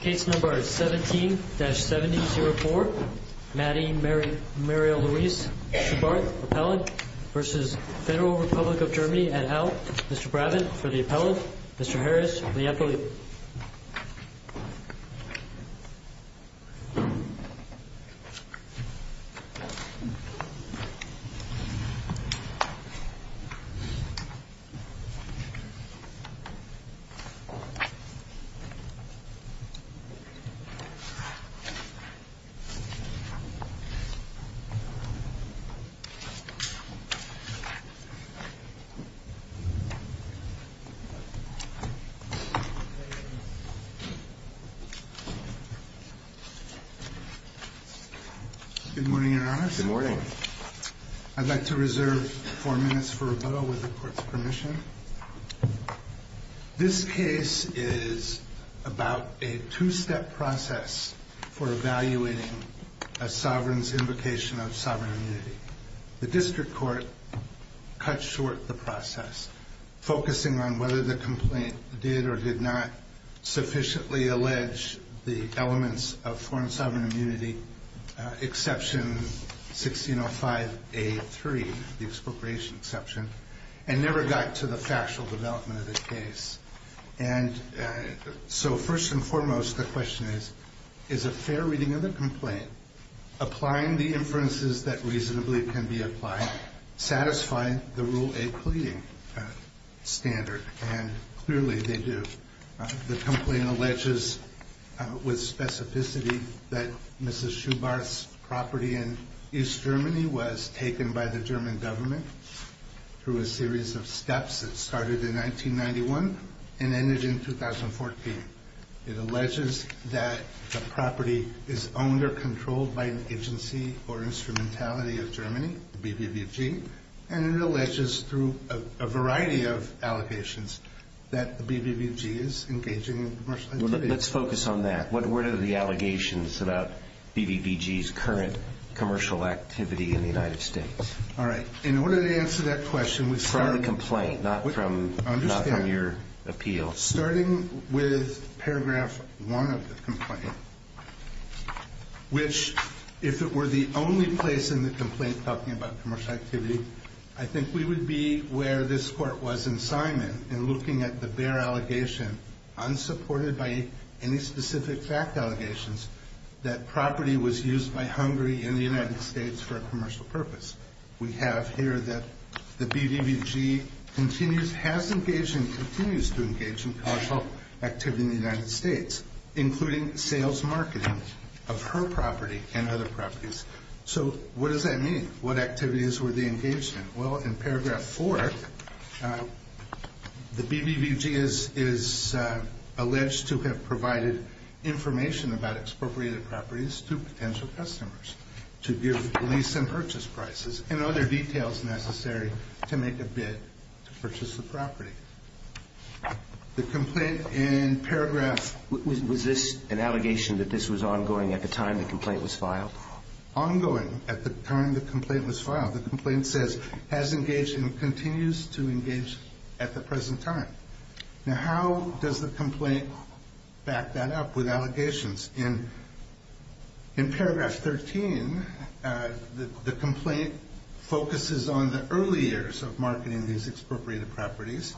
Case No. 17-7004, Mady Marie Louise Schubarth, Appellant, v. Federal Republic of Germany et al., Mr. Brabant for the Appellant, Mr. Harris for the Appellant. Good morning, Your Honor. Good morning. I'd like to reserve four minutes for rebuttal with the Court's permission. This case is about a two-step process for evaluating a sovereign's invocation of sovereign immunity. The District Court cut short the process, focusing on whether the complaint did or did not sufficiently allege the elements of foreign the expropriation exception, and never got to the factual development of the case. And so first and foremost, the question is, is a fair reading of the complaint, applying the inferences that reasonably can be applied, satisfying the Rule A pleading standard? And clearly they do. The complaint alleges with specificity that Mrs. Schubarth's property in East Germany was taken by the German government through a series of steps. It started in 1991 and ended in 2014. It alleges that the property is owned or controlled by an agency or instrumentality of Germany, the BBVG, and it alleges through a variety of allegations that the BBVG is engaging in commercial activities. Let's focus on that. What are the allegations about BBVG's current commercial activity in the United States? All right. In order to answer that question, we start... From the complaint, not from your appeal. Starting with paragraph one of the complaint, which, if it were the only place in the complaint talking about commercial activity, I think we would be where this Court was in looking at the bare allegation, unsupported by any specific fact allegations, that property was used by Hungary in the United States for a commercial purpose. We have here that the BBVG continues, has engaged and continues to engage in commercial activity in the United States, including sales marketing of her property and other properties. So what does that mean? What activities were they engaged in? Well, in paragraph four, the BBVG is alleged to have provided information about expropriated properties to potential customers to give lease and purchase prices and other details necessary to make a bid to purchase the property. The complaint in paragraph... Was this an allegation that this was ongoing at the time the complaint was filed? Ongoing at the time the complaint was filed. The complaint says, has engaged and continues to engage at the present time. Now, how does the complaint back that up with allegations? In paragraph 13, the complaint focuses on the early years of marketing these expropriated properties.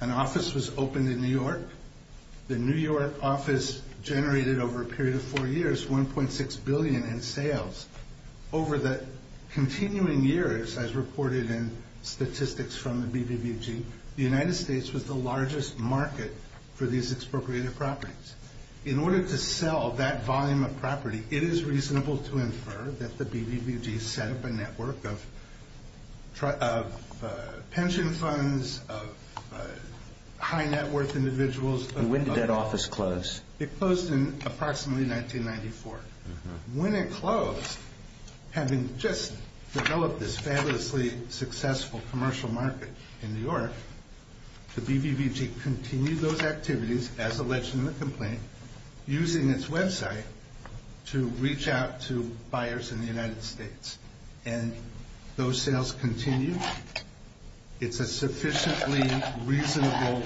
An office was opened in New York. The New York office generated over a period of four years, 1.6 billion in sales. Over the continuing years, as reported in statistics from the BBVG, the United States was the largest market for these expropriated properties. In order to sell that volume of property, it is reasonable to infer that the BBVG set up a network of pension funds, of high net worth individuals... And when did that office close? It closed in approximately 1994. When it closed, having just developed this fabulously successful commercial market in New York, the BBVG continued those activities as alleged in the complaint using its website to reach out to buyers in the United States. And those sales continue. It's a sufficiently reasonable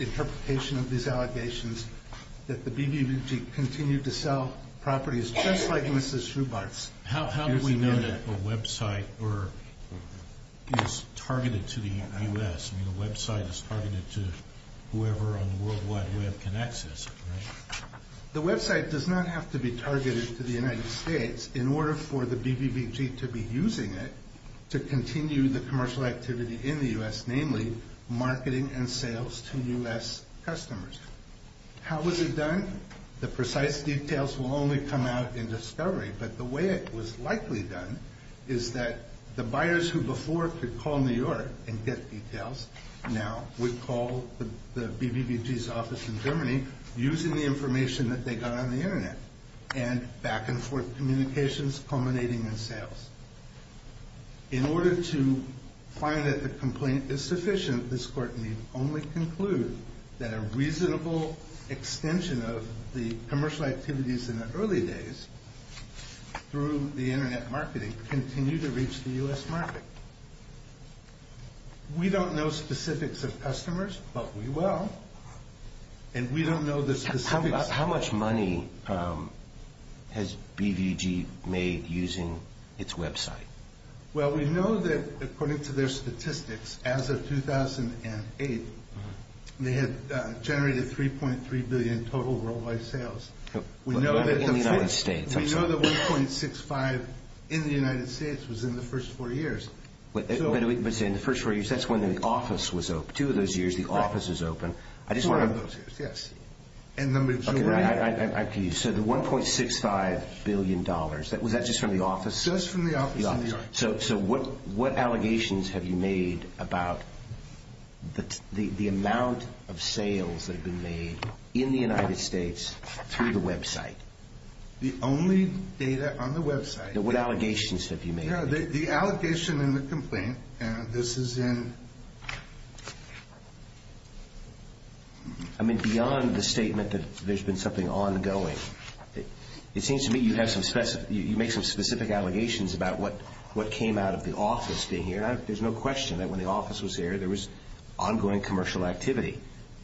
interpretation of these allegations that the BBVG continued to sell properties just like Mrs. Schubert's. How do we know that a website is targeted to the U.S.? I mean, a website is targeted to whoever on the World Wide Web can access it, right? The website does not have to be targeted to the United States in order for the BBVG to be using it to continue the commercial activity in the U.S., namely marketing and sales to U.S. customers. How was it done? The precise details will only come out in discovery, but the way it was likely done is that the buyers who before could call New York and get details now would call the BBVG's office in Germany using the information that they got on the Internet and back-and-forth communications culminating in sales. In order to find that the complaint is sufficient, this Court may only conclude that a reasonable extension of the commercial activities in the early days through the Internet marketing continued to reach the U.S. market. We don't know specifics of customers, but we will. And we don't know the specifics. How much money has BBVG made using its website? Well, we know that according to their statistics, as of 2008, they had generated $3.3 billion total worldwide sales. In the United States, I'm sorry. We know that 1.65 in the United States was in the first four years. But in the first four years, that's when the office was open. Two of those years, the office was open. Two of those years, yes. So the $1.65 billion, was that just from the office? Just from the office in New York. So what allegations have you made about the amount of sales that have been made in the United States through the website? The only data on the website. What allegations have you made? The allegation and the complaint, this is in. I mean, beyond the statement that there's been something ongoing, it seems to me you make some specific allegations about what came out of the office being here. There's no question that when the office was here, there was ongoing commercial activity.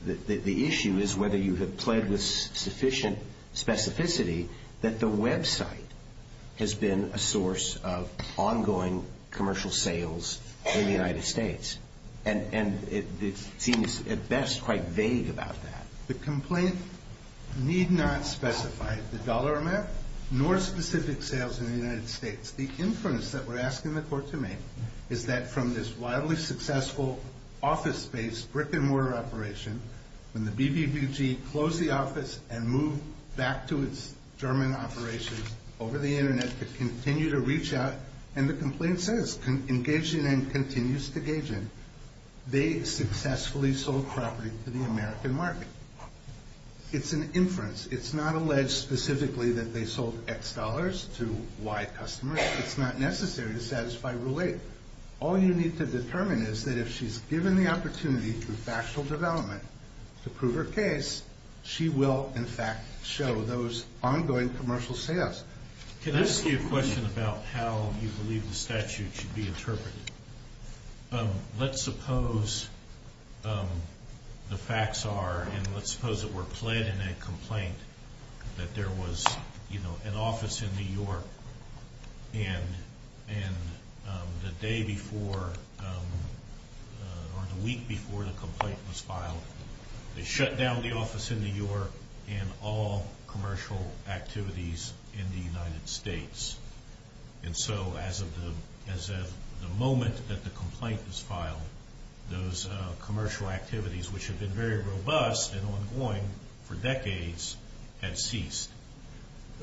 The issue is whether you have pled with sufficient specificity that the website has been a source of ongoing commercial sales in the United States. And it seems, at best, quite vague about that. The complaint need not specify the dollar amount nor specific sales in the United States. The inference that we're asking the court to make is that from this wildly successful office-based brick-and-mortar operation, when the BBBG closed the office and moved back to its German operations over the Internet to continue to reach out, and the complaint says, engaged in and continues to engage in, they successfully sold property to the American market. It's an inference. It's not alleged specifically that they sold X dollars to Y customers. It's not necessary to satisfy Rule 8. All you need to determine is that if she's given the opportunity through factual development to prove her case, she will, in fact, show those ongoing commercial sales. Can I ask you a question about how you believe the statute should be interpreted? Let's suppose the facts are, and let's suppose it were pled in a complaint, that there was an office in New York, and the day before or the week before the complaint was filed, they shut down the office in New York and all commercial activities in the United States. And so as of the moment that the complaint was filed, those commercial activities, which had been very robust and ongoing for decades, had ceased.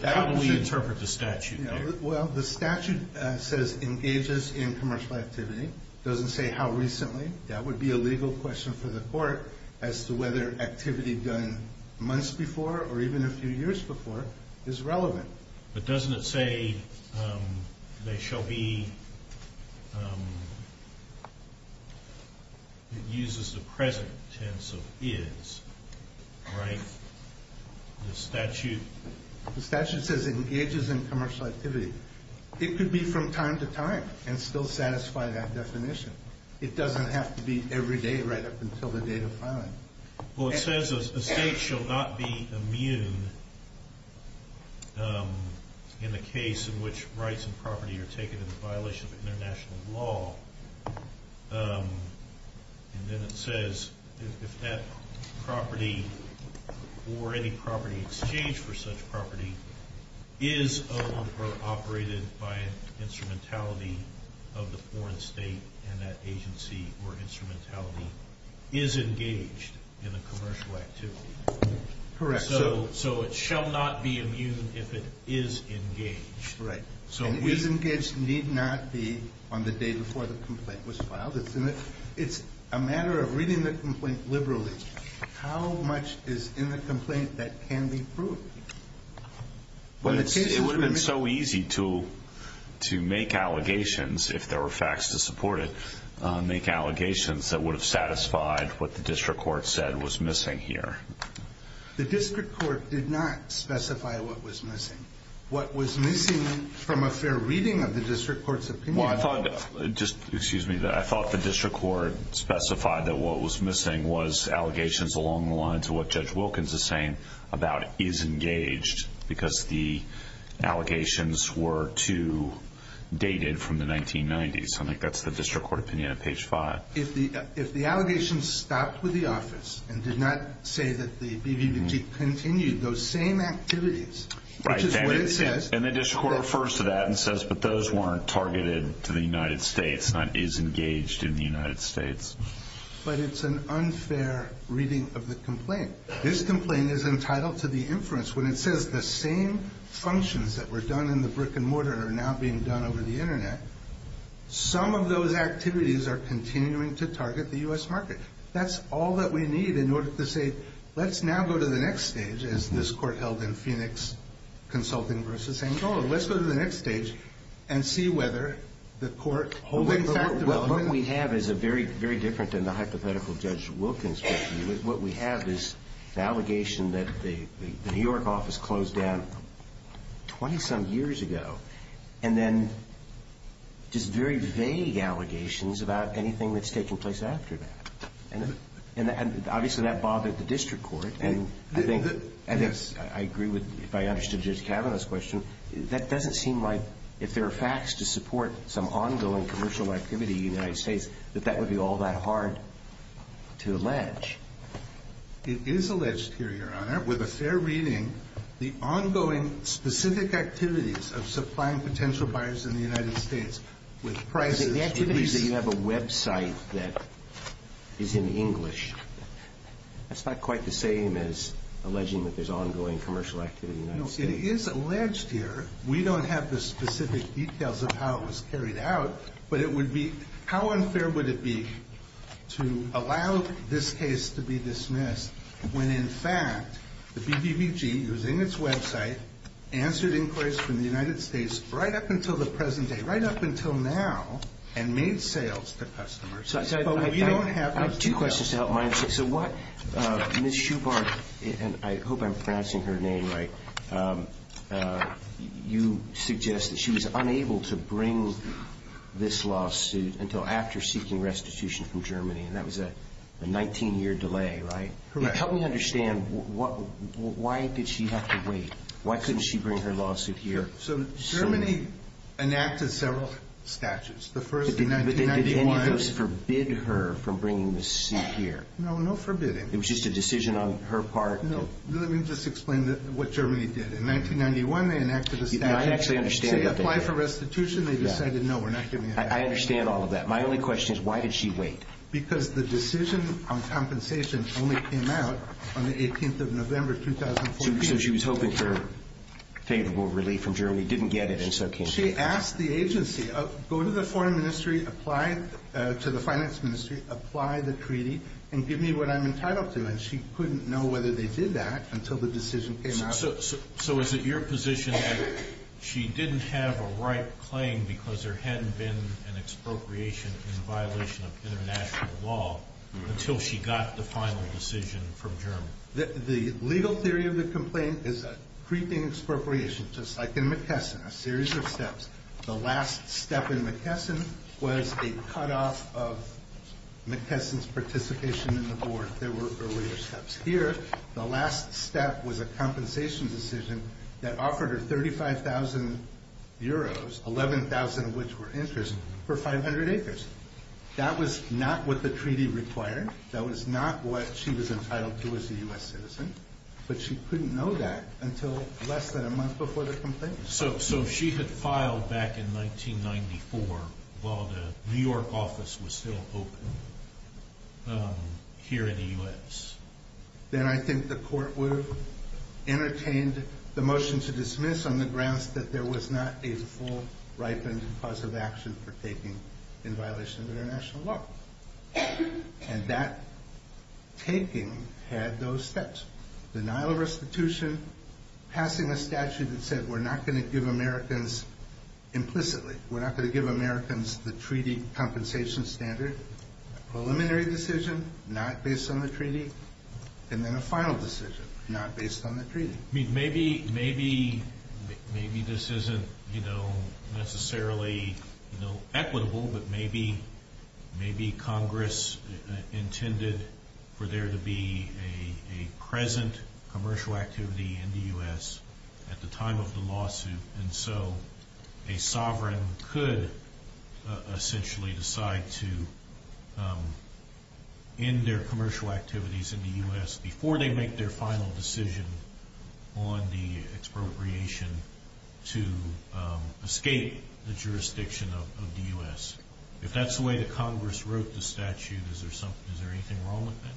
How do we interpret the statute? Well, the statute says engages in commercial activity. It doesn't say how recently. That would be a legal question for the court as to whether activity done months before or even a few years before is relevant. But doesn't it say they shall be, it uses the present tense of is, right? The statute. The statute says engages in commercial activity. It could be from time to time and still satisfy that definition. It doesn't have to be every day right up until the date of filing. Well, it says a state shall not be immune in the case in which rights and property are taken in violation of international law. And then it says if that property or any property exchanged for such property is owned or operated by an instrumentality of the foreign state and that agency or instrumentality is engaged in a commercial activity. Correct. So it shall not be immune if it is engaged. Correct. And is engaged need not be on the day before the complaint was filed. It's a matter of reading the complaint liberally. How much is in the complaint that can be proved? It would have been so easy to make allegations, if there were facts to support it, make allegations that would have satisfied what the district court said was missing here. The district court did not specify what was missing. What was missing from a fair reading of the district court's opinion. Well, I thought the district court specified that what was missing was allegations along the line to what Judge Wilkins is saying about is engaged because the allegations were too dated from the 1990s. I think that's the district court opinion at page 5. If the allegations stopped with the office and did not say that the BVBG continued those same activities, which is what it says. And the district court refers to that and says, but those weren't targeted to the United States, not is engaged in the United States. But it's an unfair reading of the complaint. This complaint is entitled to the inference. When it says the same functions that were done in the brick and mortar are now being done over the Internet, some of those activities are continuing to target the U.S. market. That's all that we need in order to say, let's now go to the next stage, as this court held in Phoenix Consulting v. Angola. Let's go to the next stage and see whether the court holds that. What we have is a very, very different than the hypothetical Judge Wilkins. What we have is the allegation that the New York office closed down 20 some years ago. And then just very vague allegations about anything that's taking place after that. And obviously that bothered the district court. And I think I agree with, if I understood Judge Kavanaugh's question, that doesn't seem like if there are facts to support some ongoing commercial activity in the United States, It is alleged here, Your Honor, with a fair reading, the ongoing specific activities of supplying potential buyers in the United States with prices. The activities that you have a website that is in English, that's not quite the same as alleging that there's ongoing commercial activity in the United States. It is alleged here. We don't have the specific details of how it was carried out. But it would be, how unfair would it be to allow this case to be dismissed when, in fact, the BBBG, using its website, answered inquiries from the United States right up until the present day, right up until now, and made sales to customers. I have two questions to help my understanding. So what Ms. Shubart, and I hope I'm pronouncing her name right, you suggest that she was unable to bring this lawsuit until after seeking restitution from Germany, and that was a 19-year delay, right? Correct. Help me understand, why did she have to wait? Why couldn't she bring her lawsuit here? So Germany enacted several statutes, the first in 1991. But did any of those forbid her from bringing this suit here? No, no forbidding. It was just a decision on her part? No, let me just explain what Germany did. In 1991, they enacted a statute. I actually understand that. They said apply for restitution. They decided, no, we're not giving it to you. I understand all of that. My only question is, why did she wait? Because the decision on compensation only came out on the 18th of November, 2014. So she was hoping for favorable relief from Germany, didn't get it, and so came here. She asked the agency, go to the foreign ministry, apply to the finance ministry, apply the treaty, and give me what I'm entitled to, and she couldn't know whether they did that until the decision came out. So is it your position that she didn't have a right claim because there hadn't been an expropriation in violation of international law until she got the final decision from Germany? The legal theory of the complaint is a creeping expropriation, just like in McKesson, a series of steps. The last step in McKesson was a cutoff of McKesson's participation in the board. There were earlier steps. Here, the last step was a compensation decision that offered her 35,000 euros, 11,000 of which were interest, for 500 acres. That was not what the treaty required. That was not what she was entitled to as a U.S. citizen, but she couldn't know that until less than a month before the complaint. So she had filed back in 1994 while the New York office was still open here in the U.S. Then I think the court would have entertained the motion to dismiss on the grounds that there was not a full, ripened cause of action for taking in violation of international law. And that taking had those steps. Denial of restitution, passing a statute that said we're not going to give Americans implicitly, we're not going to give Americans the treaty compensation standard, a preliminary decision not based on the treaty, and then a final decision not based on the treaty. Maybe this isn't necessarily equitable, but maybe Congress intended for there to be a present commercial activity in the U.S. at the time of the lawsuit, and so a sovereign could essentially decide to end their commercial activities in the U.S. before they make their final decision on the expropriation to escape the jurisdiction of the U.S. If that's the way that Congress wrote the statute, is there anything wrong with that?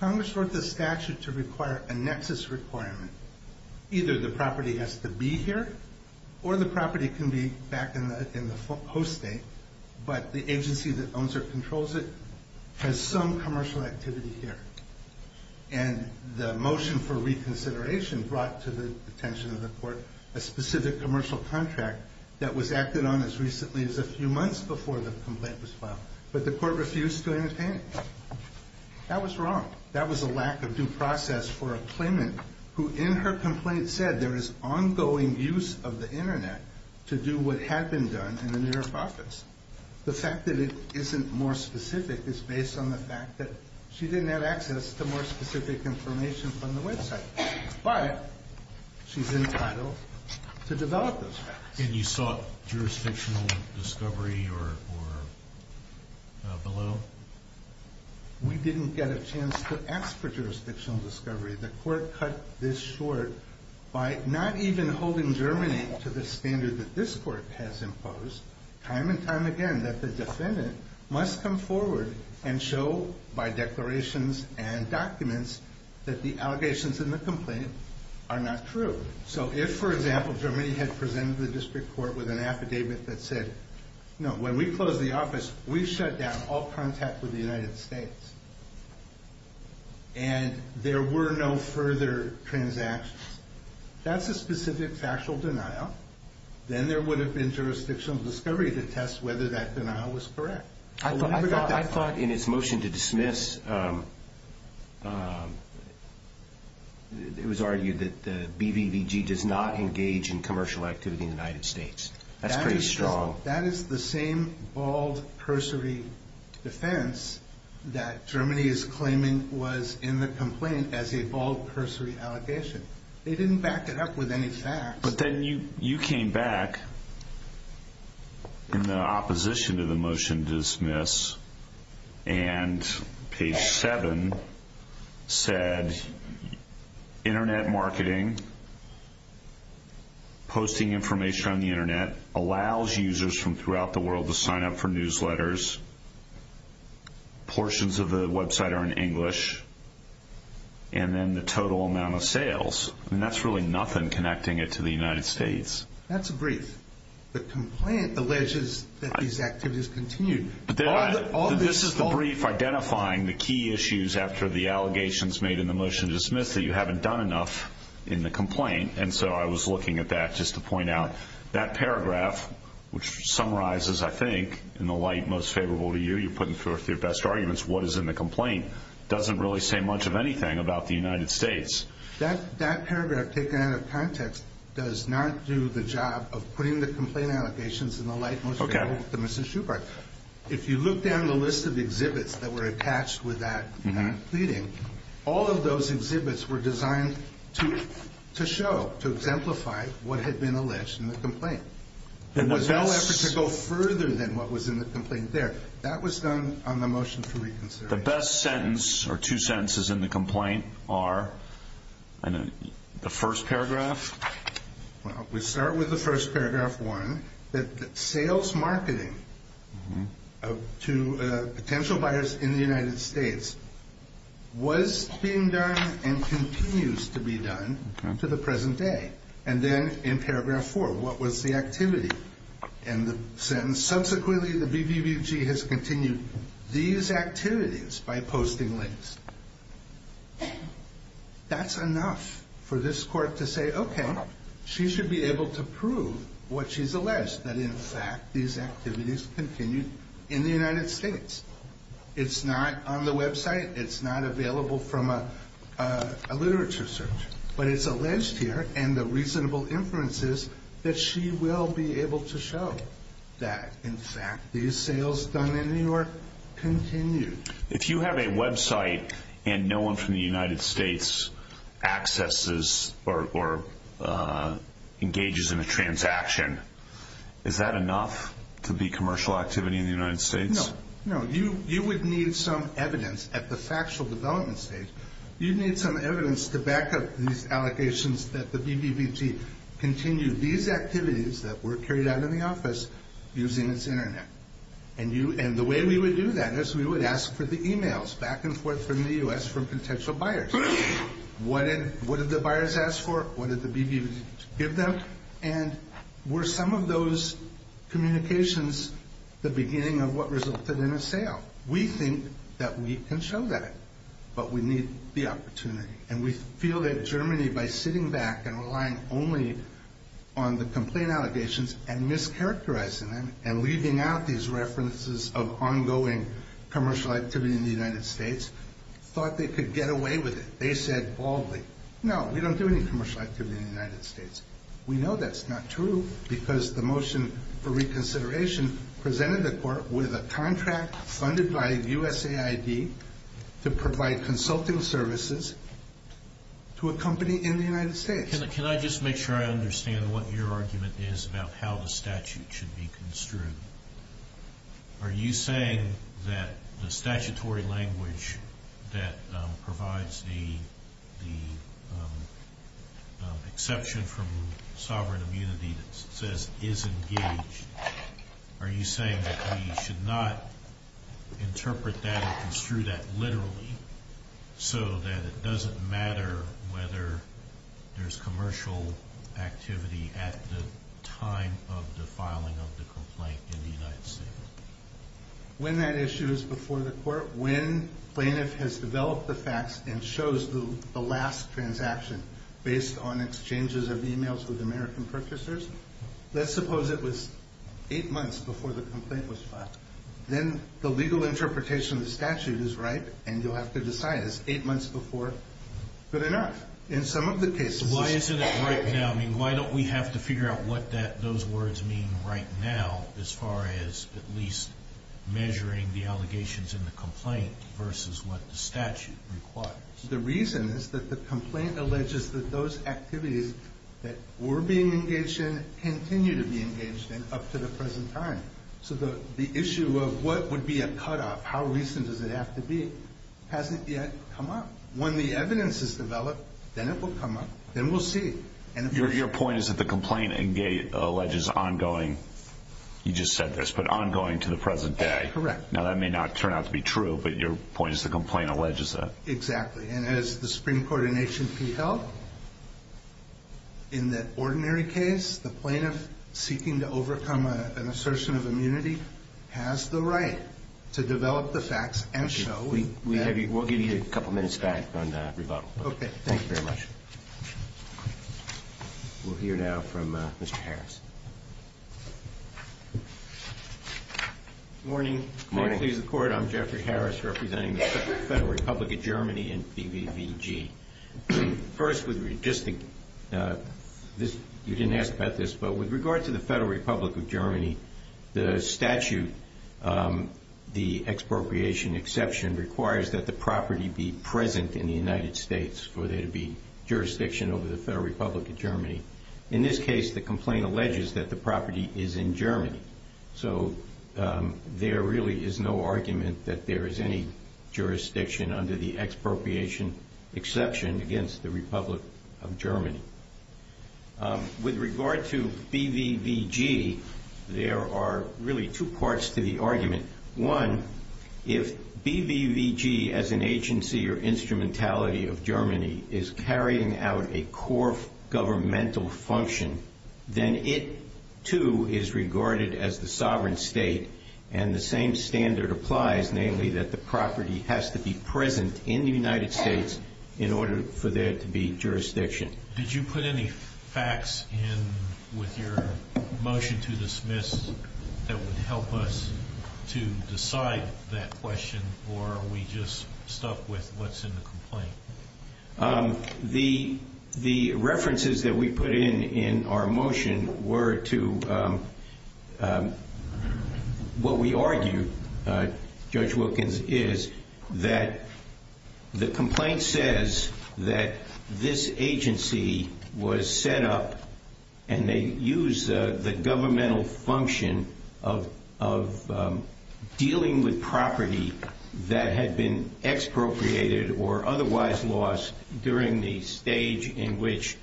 Congress wrote the statute to require a nexus requirement. Either the property has to be here or the property can be back in the host state, but the agency that owns or controls it has some commercial activity here. And the motion for reconsideration brought to the attention of the court a specific commercial contract that was acted on as recently as a few months before the complaint was filed, but the court refused to entertain it. That was wrong. That was a lack of due process for a claimant who, in her complaint, said there is ongoing use of the Internet to do what had been done in the New York office. The fact that it isn't more specific is based on the fact that she didn't have access to more specific information from the website, but she's entitled to develop those facts. And you sought jurisdictional discovery or below? We didn't get a chance to ask for jurisdictional discovery. The court cut this short by not even holding Germany to the standard that this court has imposed. Time and time again that the defendant must come forward and show by declarations and documents that the allegations in the complaint are not true. So if, for example, Germany had presented to the district court with an affidavit that said, no, when we closed the office, we shut down all contact with the United States and there were no further transactions, that's a specific factual denial. Then there would have been jurisdictional discovery to test whether that denial was correct. I thought in its motion to dismiss, it was argued that the BBVG does not engage in commercial activity in the United States. That's pretty strong. That is the same bald cursory defense that Germany is claiming was in the complaint as a bald cursory allegation. They didn't back it up with any facts. But then you came back in the opposition to the motion to dismiss and page 7 said, internet marketing, posting information on the internet, allows users from throughout the world to sign up for newsletters, portions of the website are in English, and then the total amount of sales. That's really nothing connecting it to the United States. That's a brief. The complaint alleges that these activities continue. This is the brief identifying the key issues after the allegations made in the motion to dismiss that you haven't done enough in the complaint, and so I was looking at that just to point out that paragraph, which summarizes, I think, in the light most favorable to you, you're putting forth your best arguments, what is in the complaint, doesn't really say much of anything about the United States. That paragraph taken out of context does not do the job of putting the complaint allegations in the light most favorable to Mr. Schubert. If you look down the list of exhibits that were attached with that pleading, all of those exhibits were designed to show, to exemplify what had been alleged in the complaint. There was no effort to go further than what was in the complaint there. That was done on the motion to reconsider. The best sentence or two sentences in the complaint are in the first paragraph. Well, we start with the first paragraph, one, that sales marketing to potential buyers in the United States was being done and continues to be done to the present day. And then in paragraph four, what was the activity? And the sentence, subsequently the BBBG has continued these activities by posting links. That's enough for this court to say, okay, she should be able to prove what she's alleged, that in fact these activities continued in the United States. It's not on the website. It's not available from a literature search. But it's alleged here, and the reasonable inference is that she will be able to show that in fact these sales done in New York continue. If you have a website and no one from the United States accesses or engages in a transaction, is that enough to be commercial activity in the United States? No. You would need some evidence at the factual development stage. You'd need some evidence to back up these allegations that the BBBG continued these activities that were carried out in the office using its internet. And the way we would do that is we would ask for the e-mails back and forth from the U.S. from potential buyers. What did the buyers ask for? What did the BBBG give them? And were some of those communications the beginning of what resulted in a sale? We think that we can show that, but we need the opportunity. And we feel that Germany, by sitting back and relying only on the complaint allegations and mischaracterizing them and leaving out these references of ongoing commercial activity in the United States, thought they could get away with it. They said baldly, no, we don't do any commercial activity in the United States. We know that's not true because the motion for reconsideration presented the court with a contract funded by USAID to provide consulting services to a company in the United States. Can I just make sure I understand what your argument is about how the statute should be construed? Are you saying that the statutory language that provides the exception from sovereign immunity that says is engaged, are you saying that we should not interpret that or construe that literally so that it doesn't matter whether there's commercial activity at the time of the filing of the complaint in the United States? When that issue is before the court, when plaintiff has developed the facts and shows the last transaction based on exchanges of e-mails with American purchasers, let's suppose it was eight months before the complaint was filed. Then the legal interpretation of the statute is right, and you'll have to decide it's eight months before. Good enough. In some of the cases it's— Why isn't it right now? I mean, why don't we have to figure out what those words mean right now as far as at least measuring the allegations in the complaint versus what the statute requires? The reason is that the complaint alleges that those activities that were being engaged in continue to be engaged in up to the present time. So the issue of what would be a cutoff, how recent does it have to be, hasn't yet come up. When the evidence is developed, then it will come up, then we'll see. Your point is that the complaint alleges ongoing—you just said this, but ongoing to the present day. Correct. Now that may not turn out to be true, but your point is the complaint alleges that. Exactly. And as the Supreme Court in H&P held, in the ordinary case, the plaintiff seeking to overcome an assertion of immunity has the right to develop the facts and show— We'll give you a couple minutes back on that rebuttal. Okay. Thank you very much. We'll hear now from Mr. Harris. Good morning. Good morning. Fair Pleas of the Court, I'm Jeffrey Harris representing the Federal Republic of Germany and BBVG. First, you didn't ask about this, but with regard to the Federal Republic of Germany, the statute, the expropriation exception, requires that the property be present in the United States for there to be jurisdiction over the Federal Republic of Germany. In this case, the complaint alleges that the property is in Germany. So there really is no argument that there is any jurisdiction under the expropriation exception against the Republic of Germany. With regard to BBVG, there are really two parts to the argument. One, if BBVG as an agency or instrumentality of Germany is carrying out a core governmental function, then it, too, is regarded as the sovereign state, and the same standard applies, namely that the property has to be present in the United States in order for there to be jurisdiction. Did you put any facts in with your motion to dismiss that would help us to decide that question, or are we just stuck with what's in the complaint? The references that we put in in our motion were to what we argued, Judge Wilkins, is that the complaint says that this agency was set up, and they used the governmental function of dealing with property that had been expropriated or otherwise lost during the stage in which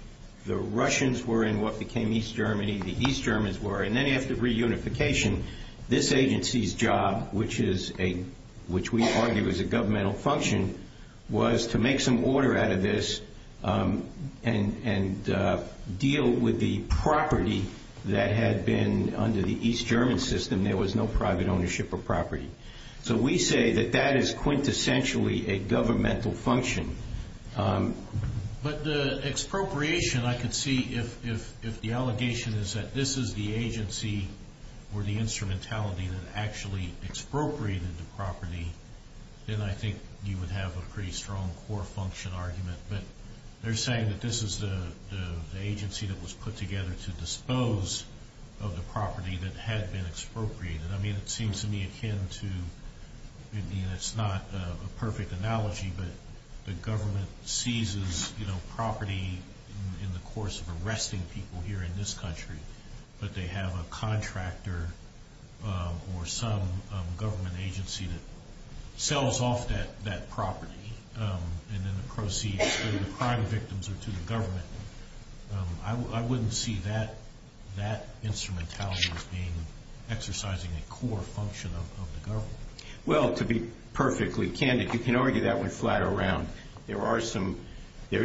the Russians were in what became East Germany, and then after reunification, this agency's job, which we argue is a governmental function, was to make some order out of this and deal with the property that had been under the East German system. There was no private ownership of property. So we say that that is quintessentially a governmental function. But the expropriation, I could see if the allegation is that this is the agency or the instrumentality that actually expropriated the property, then I think you would have a pretty strong core function argument. But they're saying that this is the agency that was put together to dispose of the property that had been expropriated. I mean, it seems to me akin to, it's not a perfect analogy, but the government seizes property in the course of arresting people here in this country, but they have a contractor or some government agency that sells off that property and then proceeds to the crime victims or to the government. I wouldn't see that instrumentality as exercising a core function of the government. Well, to be perfectly candid, you can argue that one flat around. There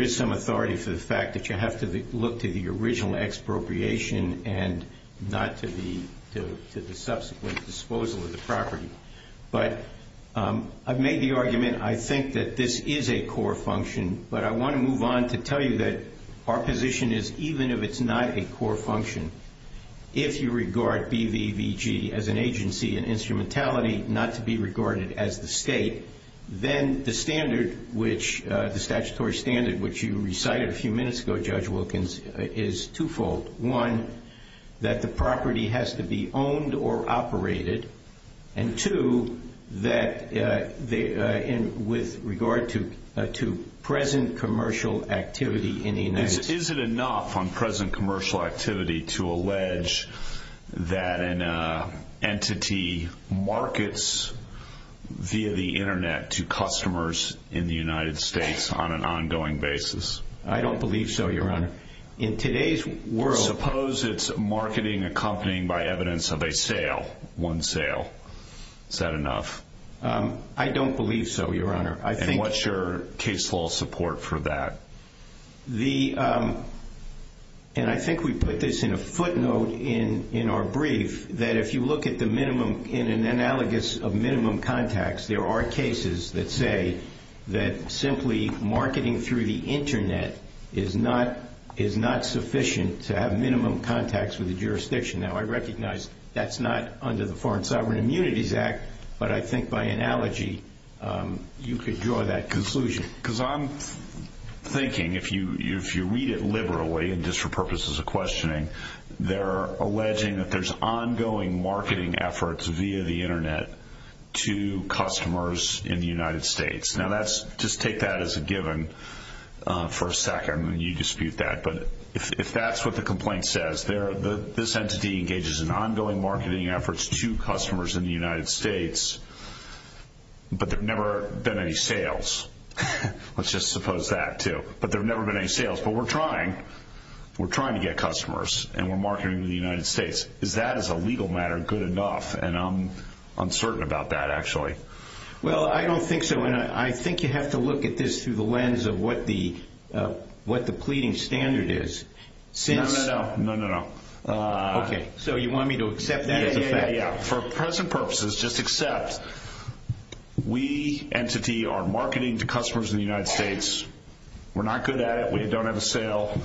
is some authority for the fact that you have to look to the original expropriation and not to the subsequent disposal of the property. But I've made the argument I think that this is a core function, but I want to move on to tell you that our position is even if it's not a core function, if you regard BVVG as an agency and instrumentality not to be regarded as the state, then the statutory standard which you recited a few minutes ago, Judge Wilkins, is twofold. One, that the property has to be owned or operated, and two, with regard to present commercial activity in the United States. Is it enough on present commercial activity to allege that an entity markets via the Internet to customers in the United States on an ongoing basis? I don't believe so, Your Honor. In today's world... Is marketing accompanied by evidence of a sale, one sale? Is that enough? I don't believe so, Your Honor. And what's your case law support for that? And I think we put this in a footnote in our brief, that if you look in an analogous of minimum contacts, it is not sufficient to have minimum contacts with the jurisdiction. Now, I recognize that's not under the Foreign Sovereign Immunities Act, but I think by analogy you could draw that conclusion. Because I'm thinking if you read it liberally and just for purposes of questioning, they're alleging that there's ongoing marketing efforts via the Internet to customers in the United States. Now, just take that as a given for a second, and you dispute that. But if that's what the complaint says, this entity engages in ongoing marketing efforts to customers in the United States, but there have never been any sales. Let's just suppose that, too. But there have never been any sales. But we're trying to get customers, and we're marketing to the United States. Is that, as a legal matter, good enough? And I'm uncertain about that, actually. Well, I don't think so. And I think you have to look at this through the lens of what the pleading standard is. No, no, no. Okay. So you want me to accept that as a fact? Yeah, yeah, yeah. For present purposes, just accept we, entity, are marketing to customers in the United States. We're not good at it. We don't have a sale.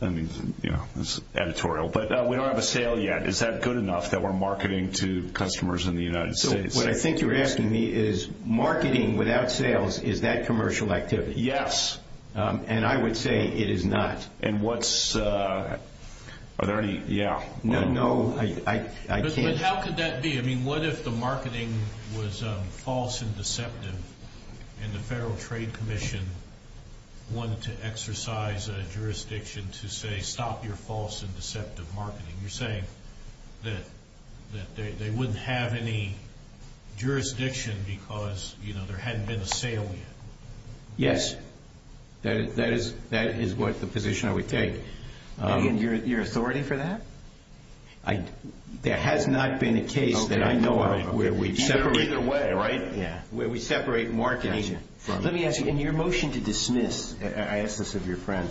I mean, you know, it's editorial. But we don't have a sale yet. Is that good enough that we're marketing to customers in the United States? So what I think you're asking me is, marketing without sales, is that commercial activity? Yes. And I would say it is not. And what's, are there any, yeah. No, no, I can't. But how could that be? I mean, what if the marketing was false and deceptive, and the Federal Trade Commission wanted to exercise a jurisdiction to say, stop your false and deceptive marketing? You're saying that they wouldn't have any jurisdiction because, you know, there hadn't been a sale yet. Yes. That is what the position I would take. And your authority for that? There has not been a case that I know of where we separate. Either way, right? Yeah. Where we separate marketing. Gotcha. Let me ask you, in your motion to dismiss, I asked this of your friend,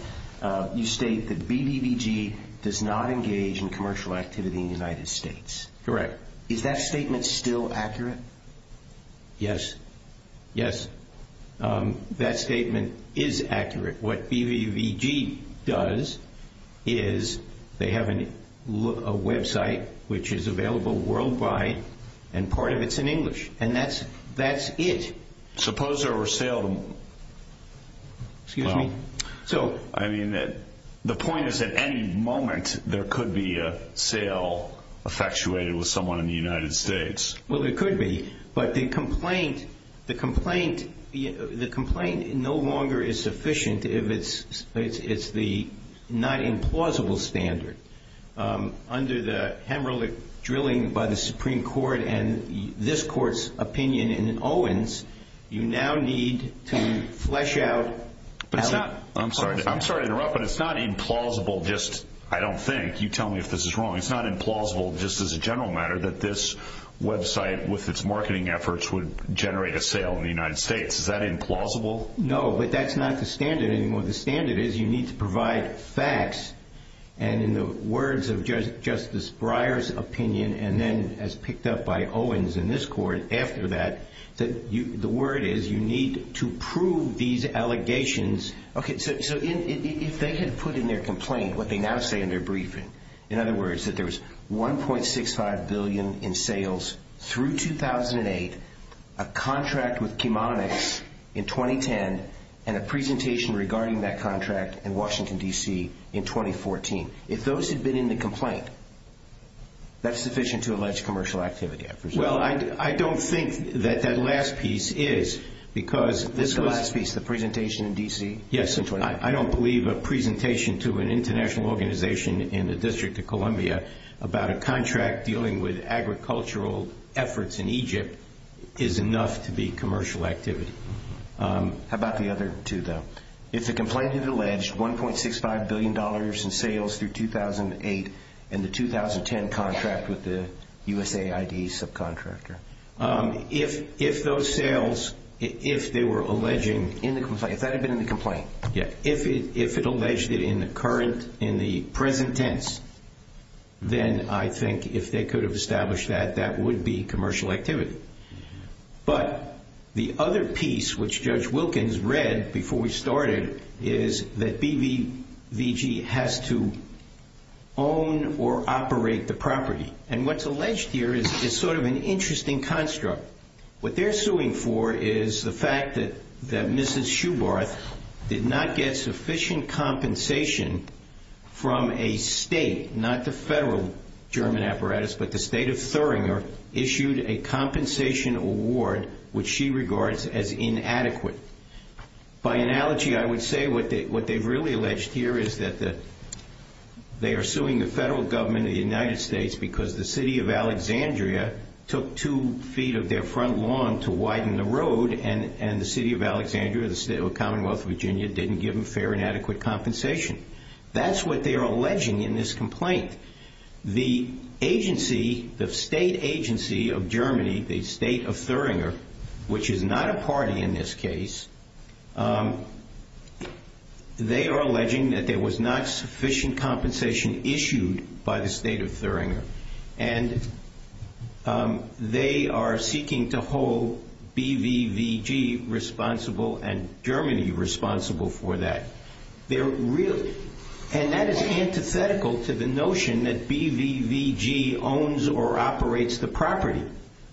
you state that BBVG does not engage in commercial activity in the United States. Correct. Is that statement still accurate? Yes. Yes. That statement is accurate. What BBVG does is, they have a website which is available worldwide, and part of it's in English. And that's it. Suppose there were sales. Excuse me? I mean, the point is, at any moment, there could be a sale effectuated with someone in the United States. Well, it could be, but the complaint no longer is sufficient if it's the not implausible standard. Under the Hamerlich drilling by the Supreme Court and this Court's opinion in Owens, you now need to flesh out. I'm sorry to interrupt, but it's not implausible just, I don't think. You tell me if this is wrong. It's not implausible just as a general matter that this website, with its marketing efforts, would generate a sale in the United States. Is that implausible? No, but that's not the standard anymore. The standard is you need to provide facts, and in the words of Justice Breyer's opinion, and then as picked up by Owens in this Court after that, the word is you need to prove these allegations. Okay, so if they had put in their complaint what they now say in their briefing, in other words, that there was $1.65 billion in sales through 2008, a contract with Chemonix in 2010, and a presentation regarding that contract in Washington, D.C. in 2014. If those had been in the complaint, that's sufficient to allege commercial activity, I presume. Well, I don't think that that last piece is, because this was. This is the last piece, the presentation in D.C. in 2019. Yes, I don't believe a presentation to an international organization in the District of Columbia about a contract dealing with agricultural efforts in Egypt is enough to be commercial activity. How about the other two, though? If the complaint had alleged $1.65 billion in sales through 2008 and the 2010 contract with the USAID subcontractor. If those sales, if they were alleging in the complaint, if that had been in the complaint, if it alleged it in the present tense, then I think if they could have established that, that would be commercial activity. But the other piece, which Judge Wilkins read before we started, is that BBVG has to own or operate the property. And what's alleged here is sort of an interesting construct. What they're suing for is the fact that Mrs. Schubarth did not get sufficient compensation from a state, not the federal German apparatus, but the state of Thuringer, issued a compensation award which she regards as inadequate. By analogy, I would say what they've really alleged here is that they are suing the federal government of the United States because the city of Alexandria took two feet of their front lawn to widen the road and the city of Alexandria, the state of the Commonwealth of Virginia, didn't give them fair and adequate compensation. That's what they're alleging in this complaint. The agency, the state agency of Germany, the state of Thuringer, which is not a party in this case, they are alleging that there was not sufficient compensation issued by the state of Thuringer. And they are seeking to hold BBVG responsible and Germany responsible for that. And that is antithetical to the notion that BBVG owns or operates the property.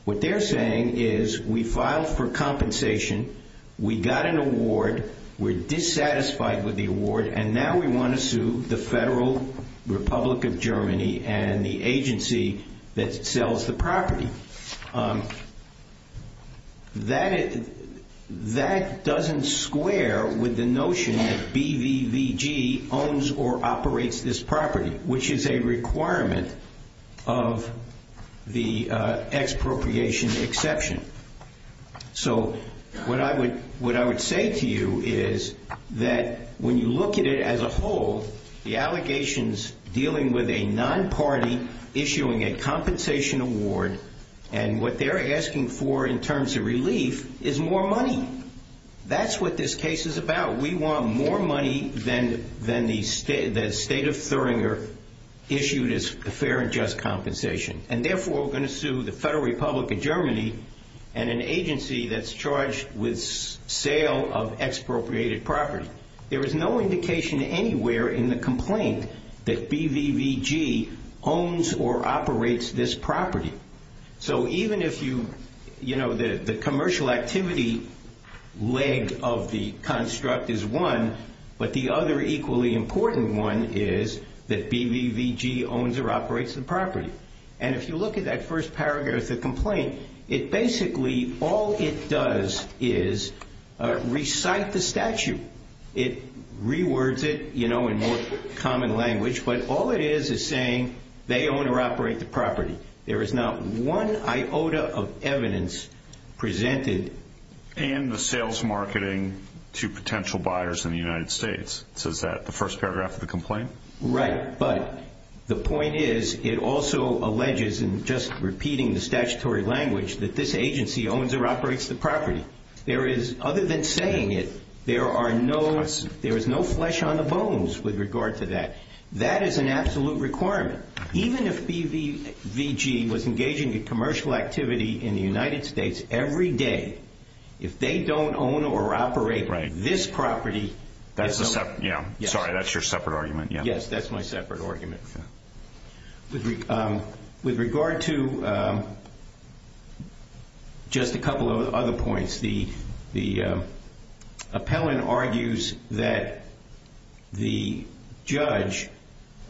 What they're saying is we filed for compensation, we got an award, we're dissatisfied with the award, and now we want to sue the Federal Republic of Germany and the agency that sells the property. That doesn't square with the notion that BBVG owns or operates this property, which is a requirement of the expropriation exception. So what I would say to you is that when you look at it as a whole, the allegations dealing with a non-party issuing a compensation award, and what they're asking for in terms of relief is more money. That's what this case is about. We want more money than the state of Thuringer issued as fair and just compensation. And therefore, we're going to sue the Federal Republic of Germany and an agency that's charged with sale of expropriated property. There is no indication anywhere in the complaint that BBVG owns or operates this property. So even if you, you know, the commercial activity leg of the construct is one, but the other equally important one is that BBVG owns or operates the property. And if you look at that first paragraph of the complaint, it basically, all it does is recite the statute. It rewords it, you know, in more common language, but all it is is saying they own or operate the property. There is not one iota of evidence presented. And the sales marketing to potential buyers in the United States. So is that the first paragraph of the complaint? Right. But the point is it also alleges in just repeating the statutory language that this agency owns or operates the property. There is, other than saying it, there are no, there is no flesh on the bones with regard to that. That is an absolute requirement. Even if BBVG was engaging in commercial activity in the United States every day, if they don't own or operate this property. Sorry, that's your separate argument. Yes, that's my separate argument. With regard to just a couple of other points, the appellant argues that the judge,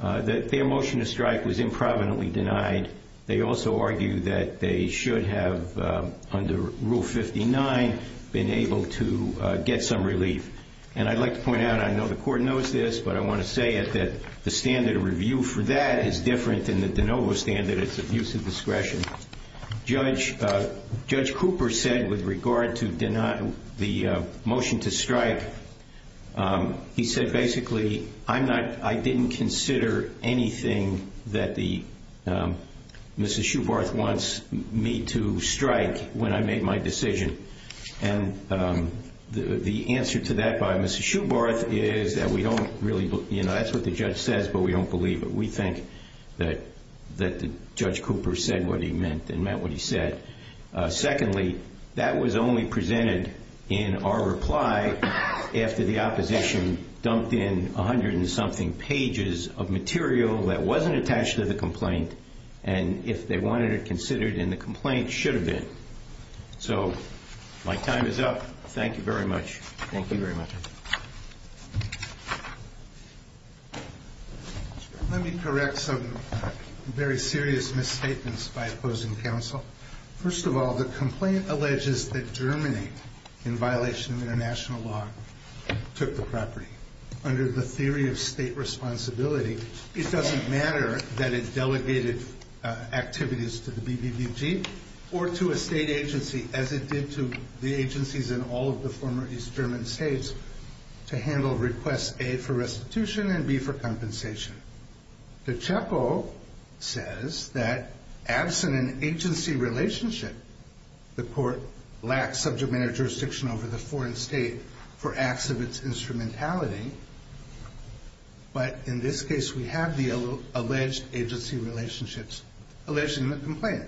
that their motion to strike was improvidently denied. They also argue that they should have, under Rule 59, been able to get some relief. And I'd like to point out, I know the court knows this, but I want to say that the standard of review for that is different than the de novo standard. It's abuse of discretion. Judge Cooper said with regard to the motion to strike, he said basically, I'm not, I didn't consider anything that Mrs. Shoebarth wants me to strike when I made my decision. And the answer to that by Mrs. Shoebarth is that we don't really, that's what the judge says, but we don't believe it. We think that Judge Cooper said what he meant and meant what he said. Secondly, that was only presented in our reply after the opposition dumped in a hundred and something pages of material that wasn't attached to the complaint, and if they wanted it considered in the complaint, should have been. So my time is up. Thank you very much. Thank you very much. Let me correct some very serious misstatements by opposing counsel. First of all, the complaint alleges that Germany, in violation of international law, took the property. Under the theory of state responsibility, it doesn't matter that it delegated activities to the BBBG or to a state agency as it did to the agencies in all of the former East German states to handle requests A, for restitution, and B, for compensation. The CHECO says that absent an agency relationship, the court lacks subject matter jurisdiction over the foreign state for acts of its instrumentality, but in this case we have the alleged agency relationships alleged in the complaint.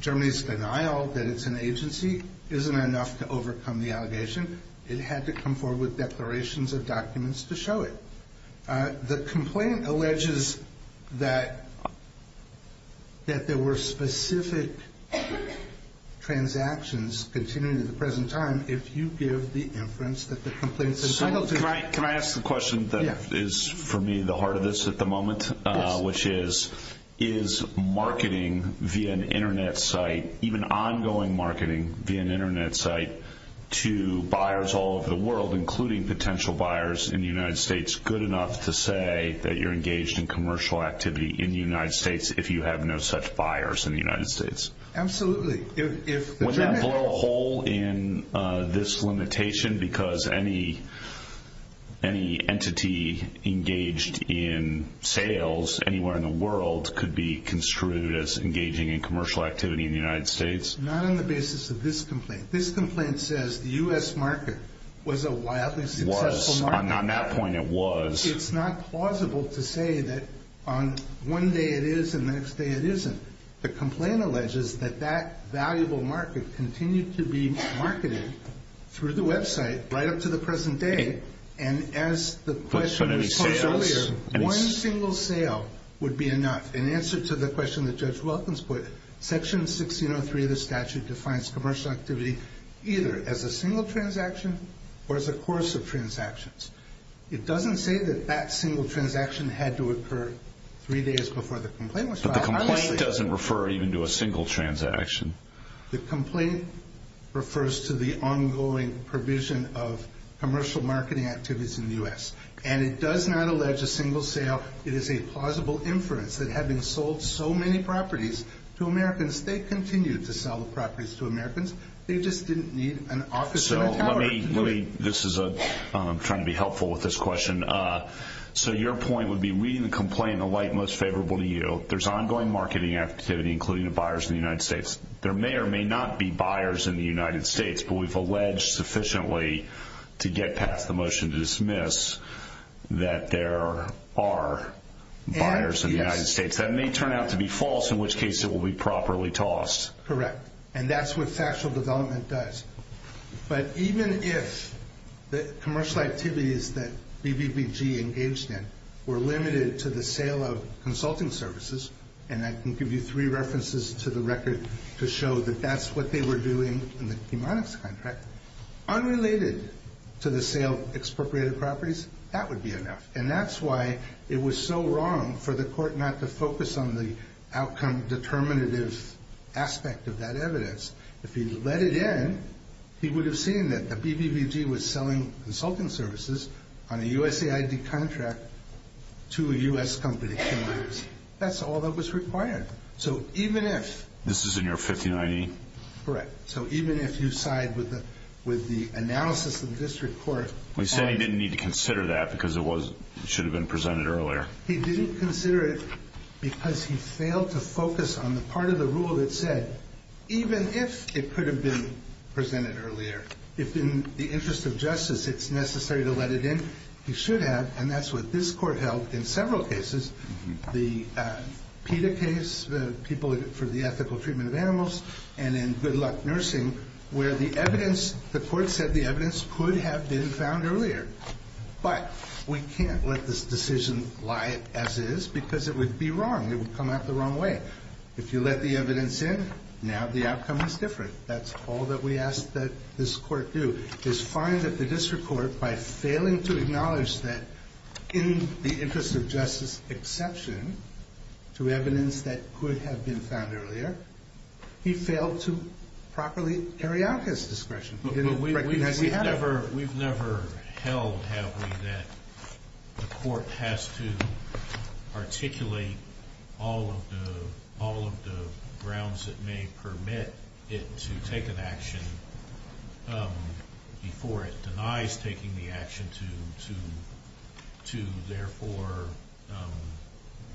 Germany's denial that it's an agency isn't enough to overcome the allegation. It had to come forward with declarations of documents to show it. The complaint alleges that there were specific transactions continuing in the present time if you give the inference that the complaint is entitled to. Can I ask the question that is, for me, the heart of this at the moment, which is, is marketing via an Internet site, even ongoing marketing via an Internet site, to buyers all over the world, including potential buyers in the United States, good enough to say that you're engaged in commercial activity in the United States if you have no such buyers in the United States? Absolutely. Would that blow a hole in this limitation because any entity engaged in sales anywhere in the world could be construed as engaging in commercial activity in the United States? Not on the basis of this complaint. This complaint says the U.S. market was a wildly successful market. It was. On that point, it was. It's not plausible to say that on one day it is and the next day it isn't. The complaint alleges that that valuable market continued to be marketed through the website right up to the present day, and as the question was posed earlier, one single sale would be enough. In answer to the question that Judge Wilkins put, Section 1603 of the statute defines commercial activity either as a single transaction or as a course of transactions. It doesn't say that that single transaction had to occur three days before the complaint was filed. The complaint doesn't refer even to a single transaction. The complaint refers to the ongoing provision of commercial marketing activities in the U.S., and it does not allege a single sale. It is a plausible inference that having sold so many properties to Americans, they continued to sell the properties to Americans. They just didn't need an office in a tower. This is a—I'm trying to be helpful with this question. So your point would be reading the complaint in a light most favorable to you. There's ongoing marketing activity, including the buyers in the United States. There may or may not be buyers in the United States, but we've alleged sufficiently to get past the motion to dismiss that there are buyers in the United States. That may turn out to be false, in which case it will be properly tossed. Correct, and that's what factual development does. But even if the commercial activities that BBBG engaged in were limited to the sale of consulting services, and I can give you three references to the record to show that that's what they were doing in the hemonics contract, unrelated to the sale of expropriated properties, that would be enough. And that's why it was so wrong for the court not to focus on the outcome determinative aspect of that evidence. If he'd let it in, he would have seen that BBBG was selling consulting services on a USAID contract to a U.S. company. That's all that was required. So even if— This is in your 59E? Correct. So even if you side with the analysis of the district court— We say he didn't need to consider that because it should have been presented earlier. He didn't consider it because he failed to focus on the part of the rule that said even if it could have been presented earlier, if in the interest of justice it's necessary to let it in, he should have. And that's what this court held in several cases, the PETA case, the people for the ethical treatment of animals, and in Good Luck Nursing, where the evidence—the court said the evidence could have been found earlier. But we can't let this decision lie as is because it would be wrong. It would come out the wrong way. If you let the evidence in, now the outcome is different. That's all that we ask that this court do, is find that the district court, by failing to acknowledge that in the interest of justice exception to evidence that could have been found earlier, he failed to properly carry out his discretion. He didn't recognize he had it. We've never held, have we, that the court has to articulate all of the grounds that may permit it to take an action before it denies taking the action to therefore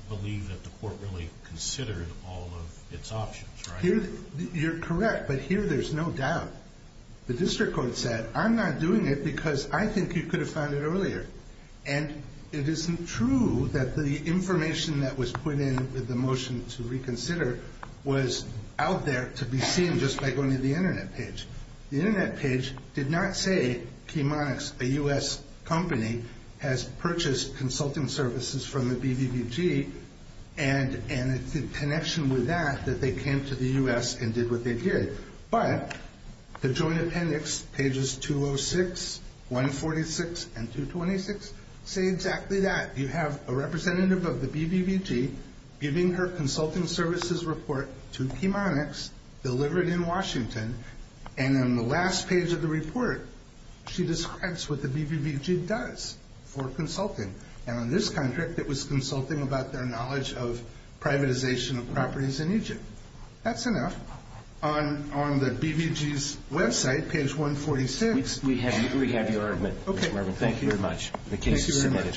believe that the court really considered all of its options, right? You're correct, but here there's no doubt. The district court said, I'm not doing it because I think you could have found it earlier. And it isn't true that the information that was put in with the motion to reconsider was out there to be seen just by going to the Internet page. The Internet page did not say Chemonix, a U.S. company, has purchased consulting services from the BBBG, and it's in connection with that that they came to the U.S. and did what they did. But the joint appendix, pages 206, 146, and 226, say exactly that. You have a representative of the BBBG giving her consulting services report to Chemonix, delivered in Washington. And on the last page of the report, she describes what the BBBG does for consulting. And on this contract, it was consulting about their knowledge of privatization of properties in Egypt. That's enough. On the BBBG's website, page 146. We have your argument, Mr. Marvin. Thank you very much. The case is submitted.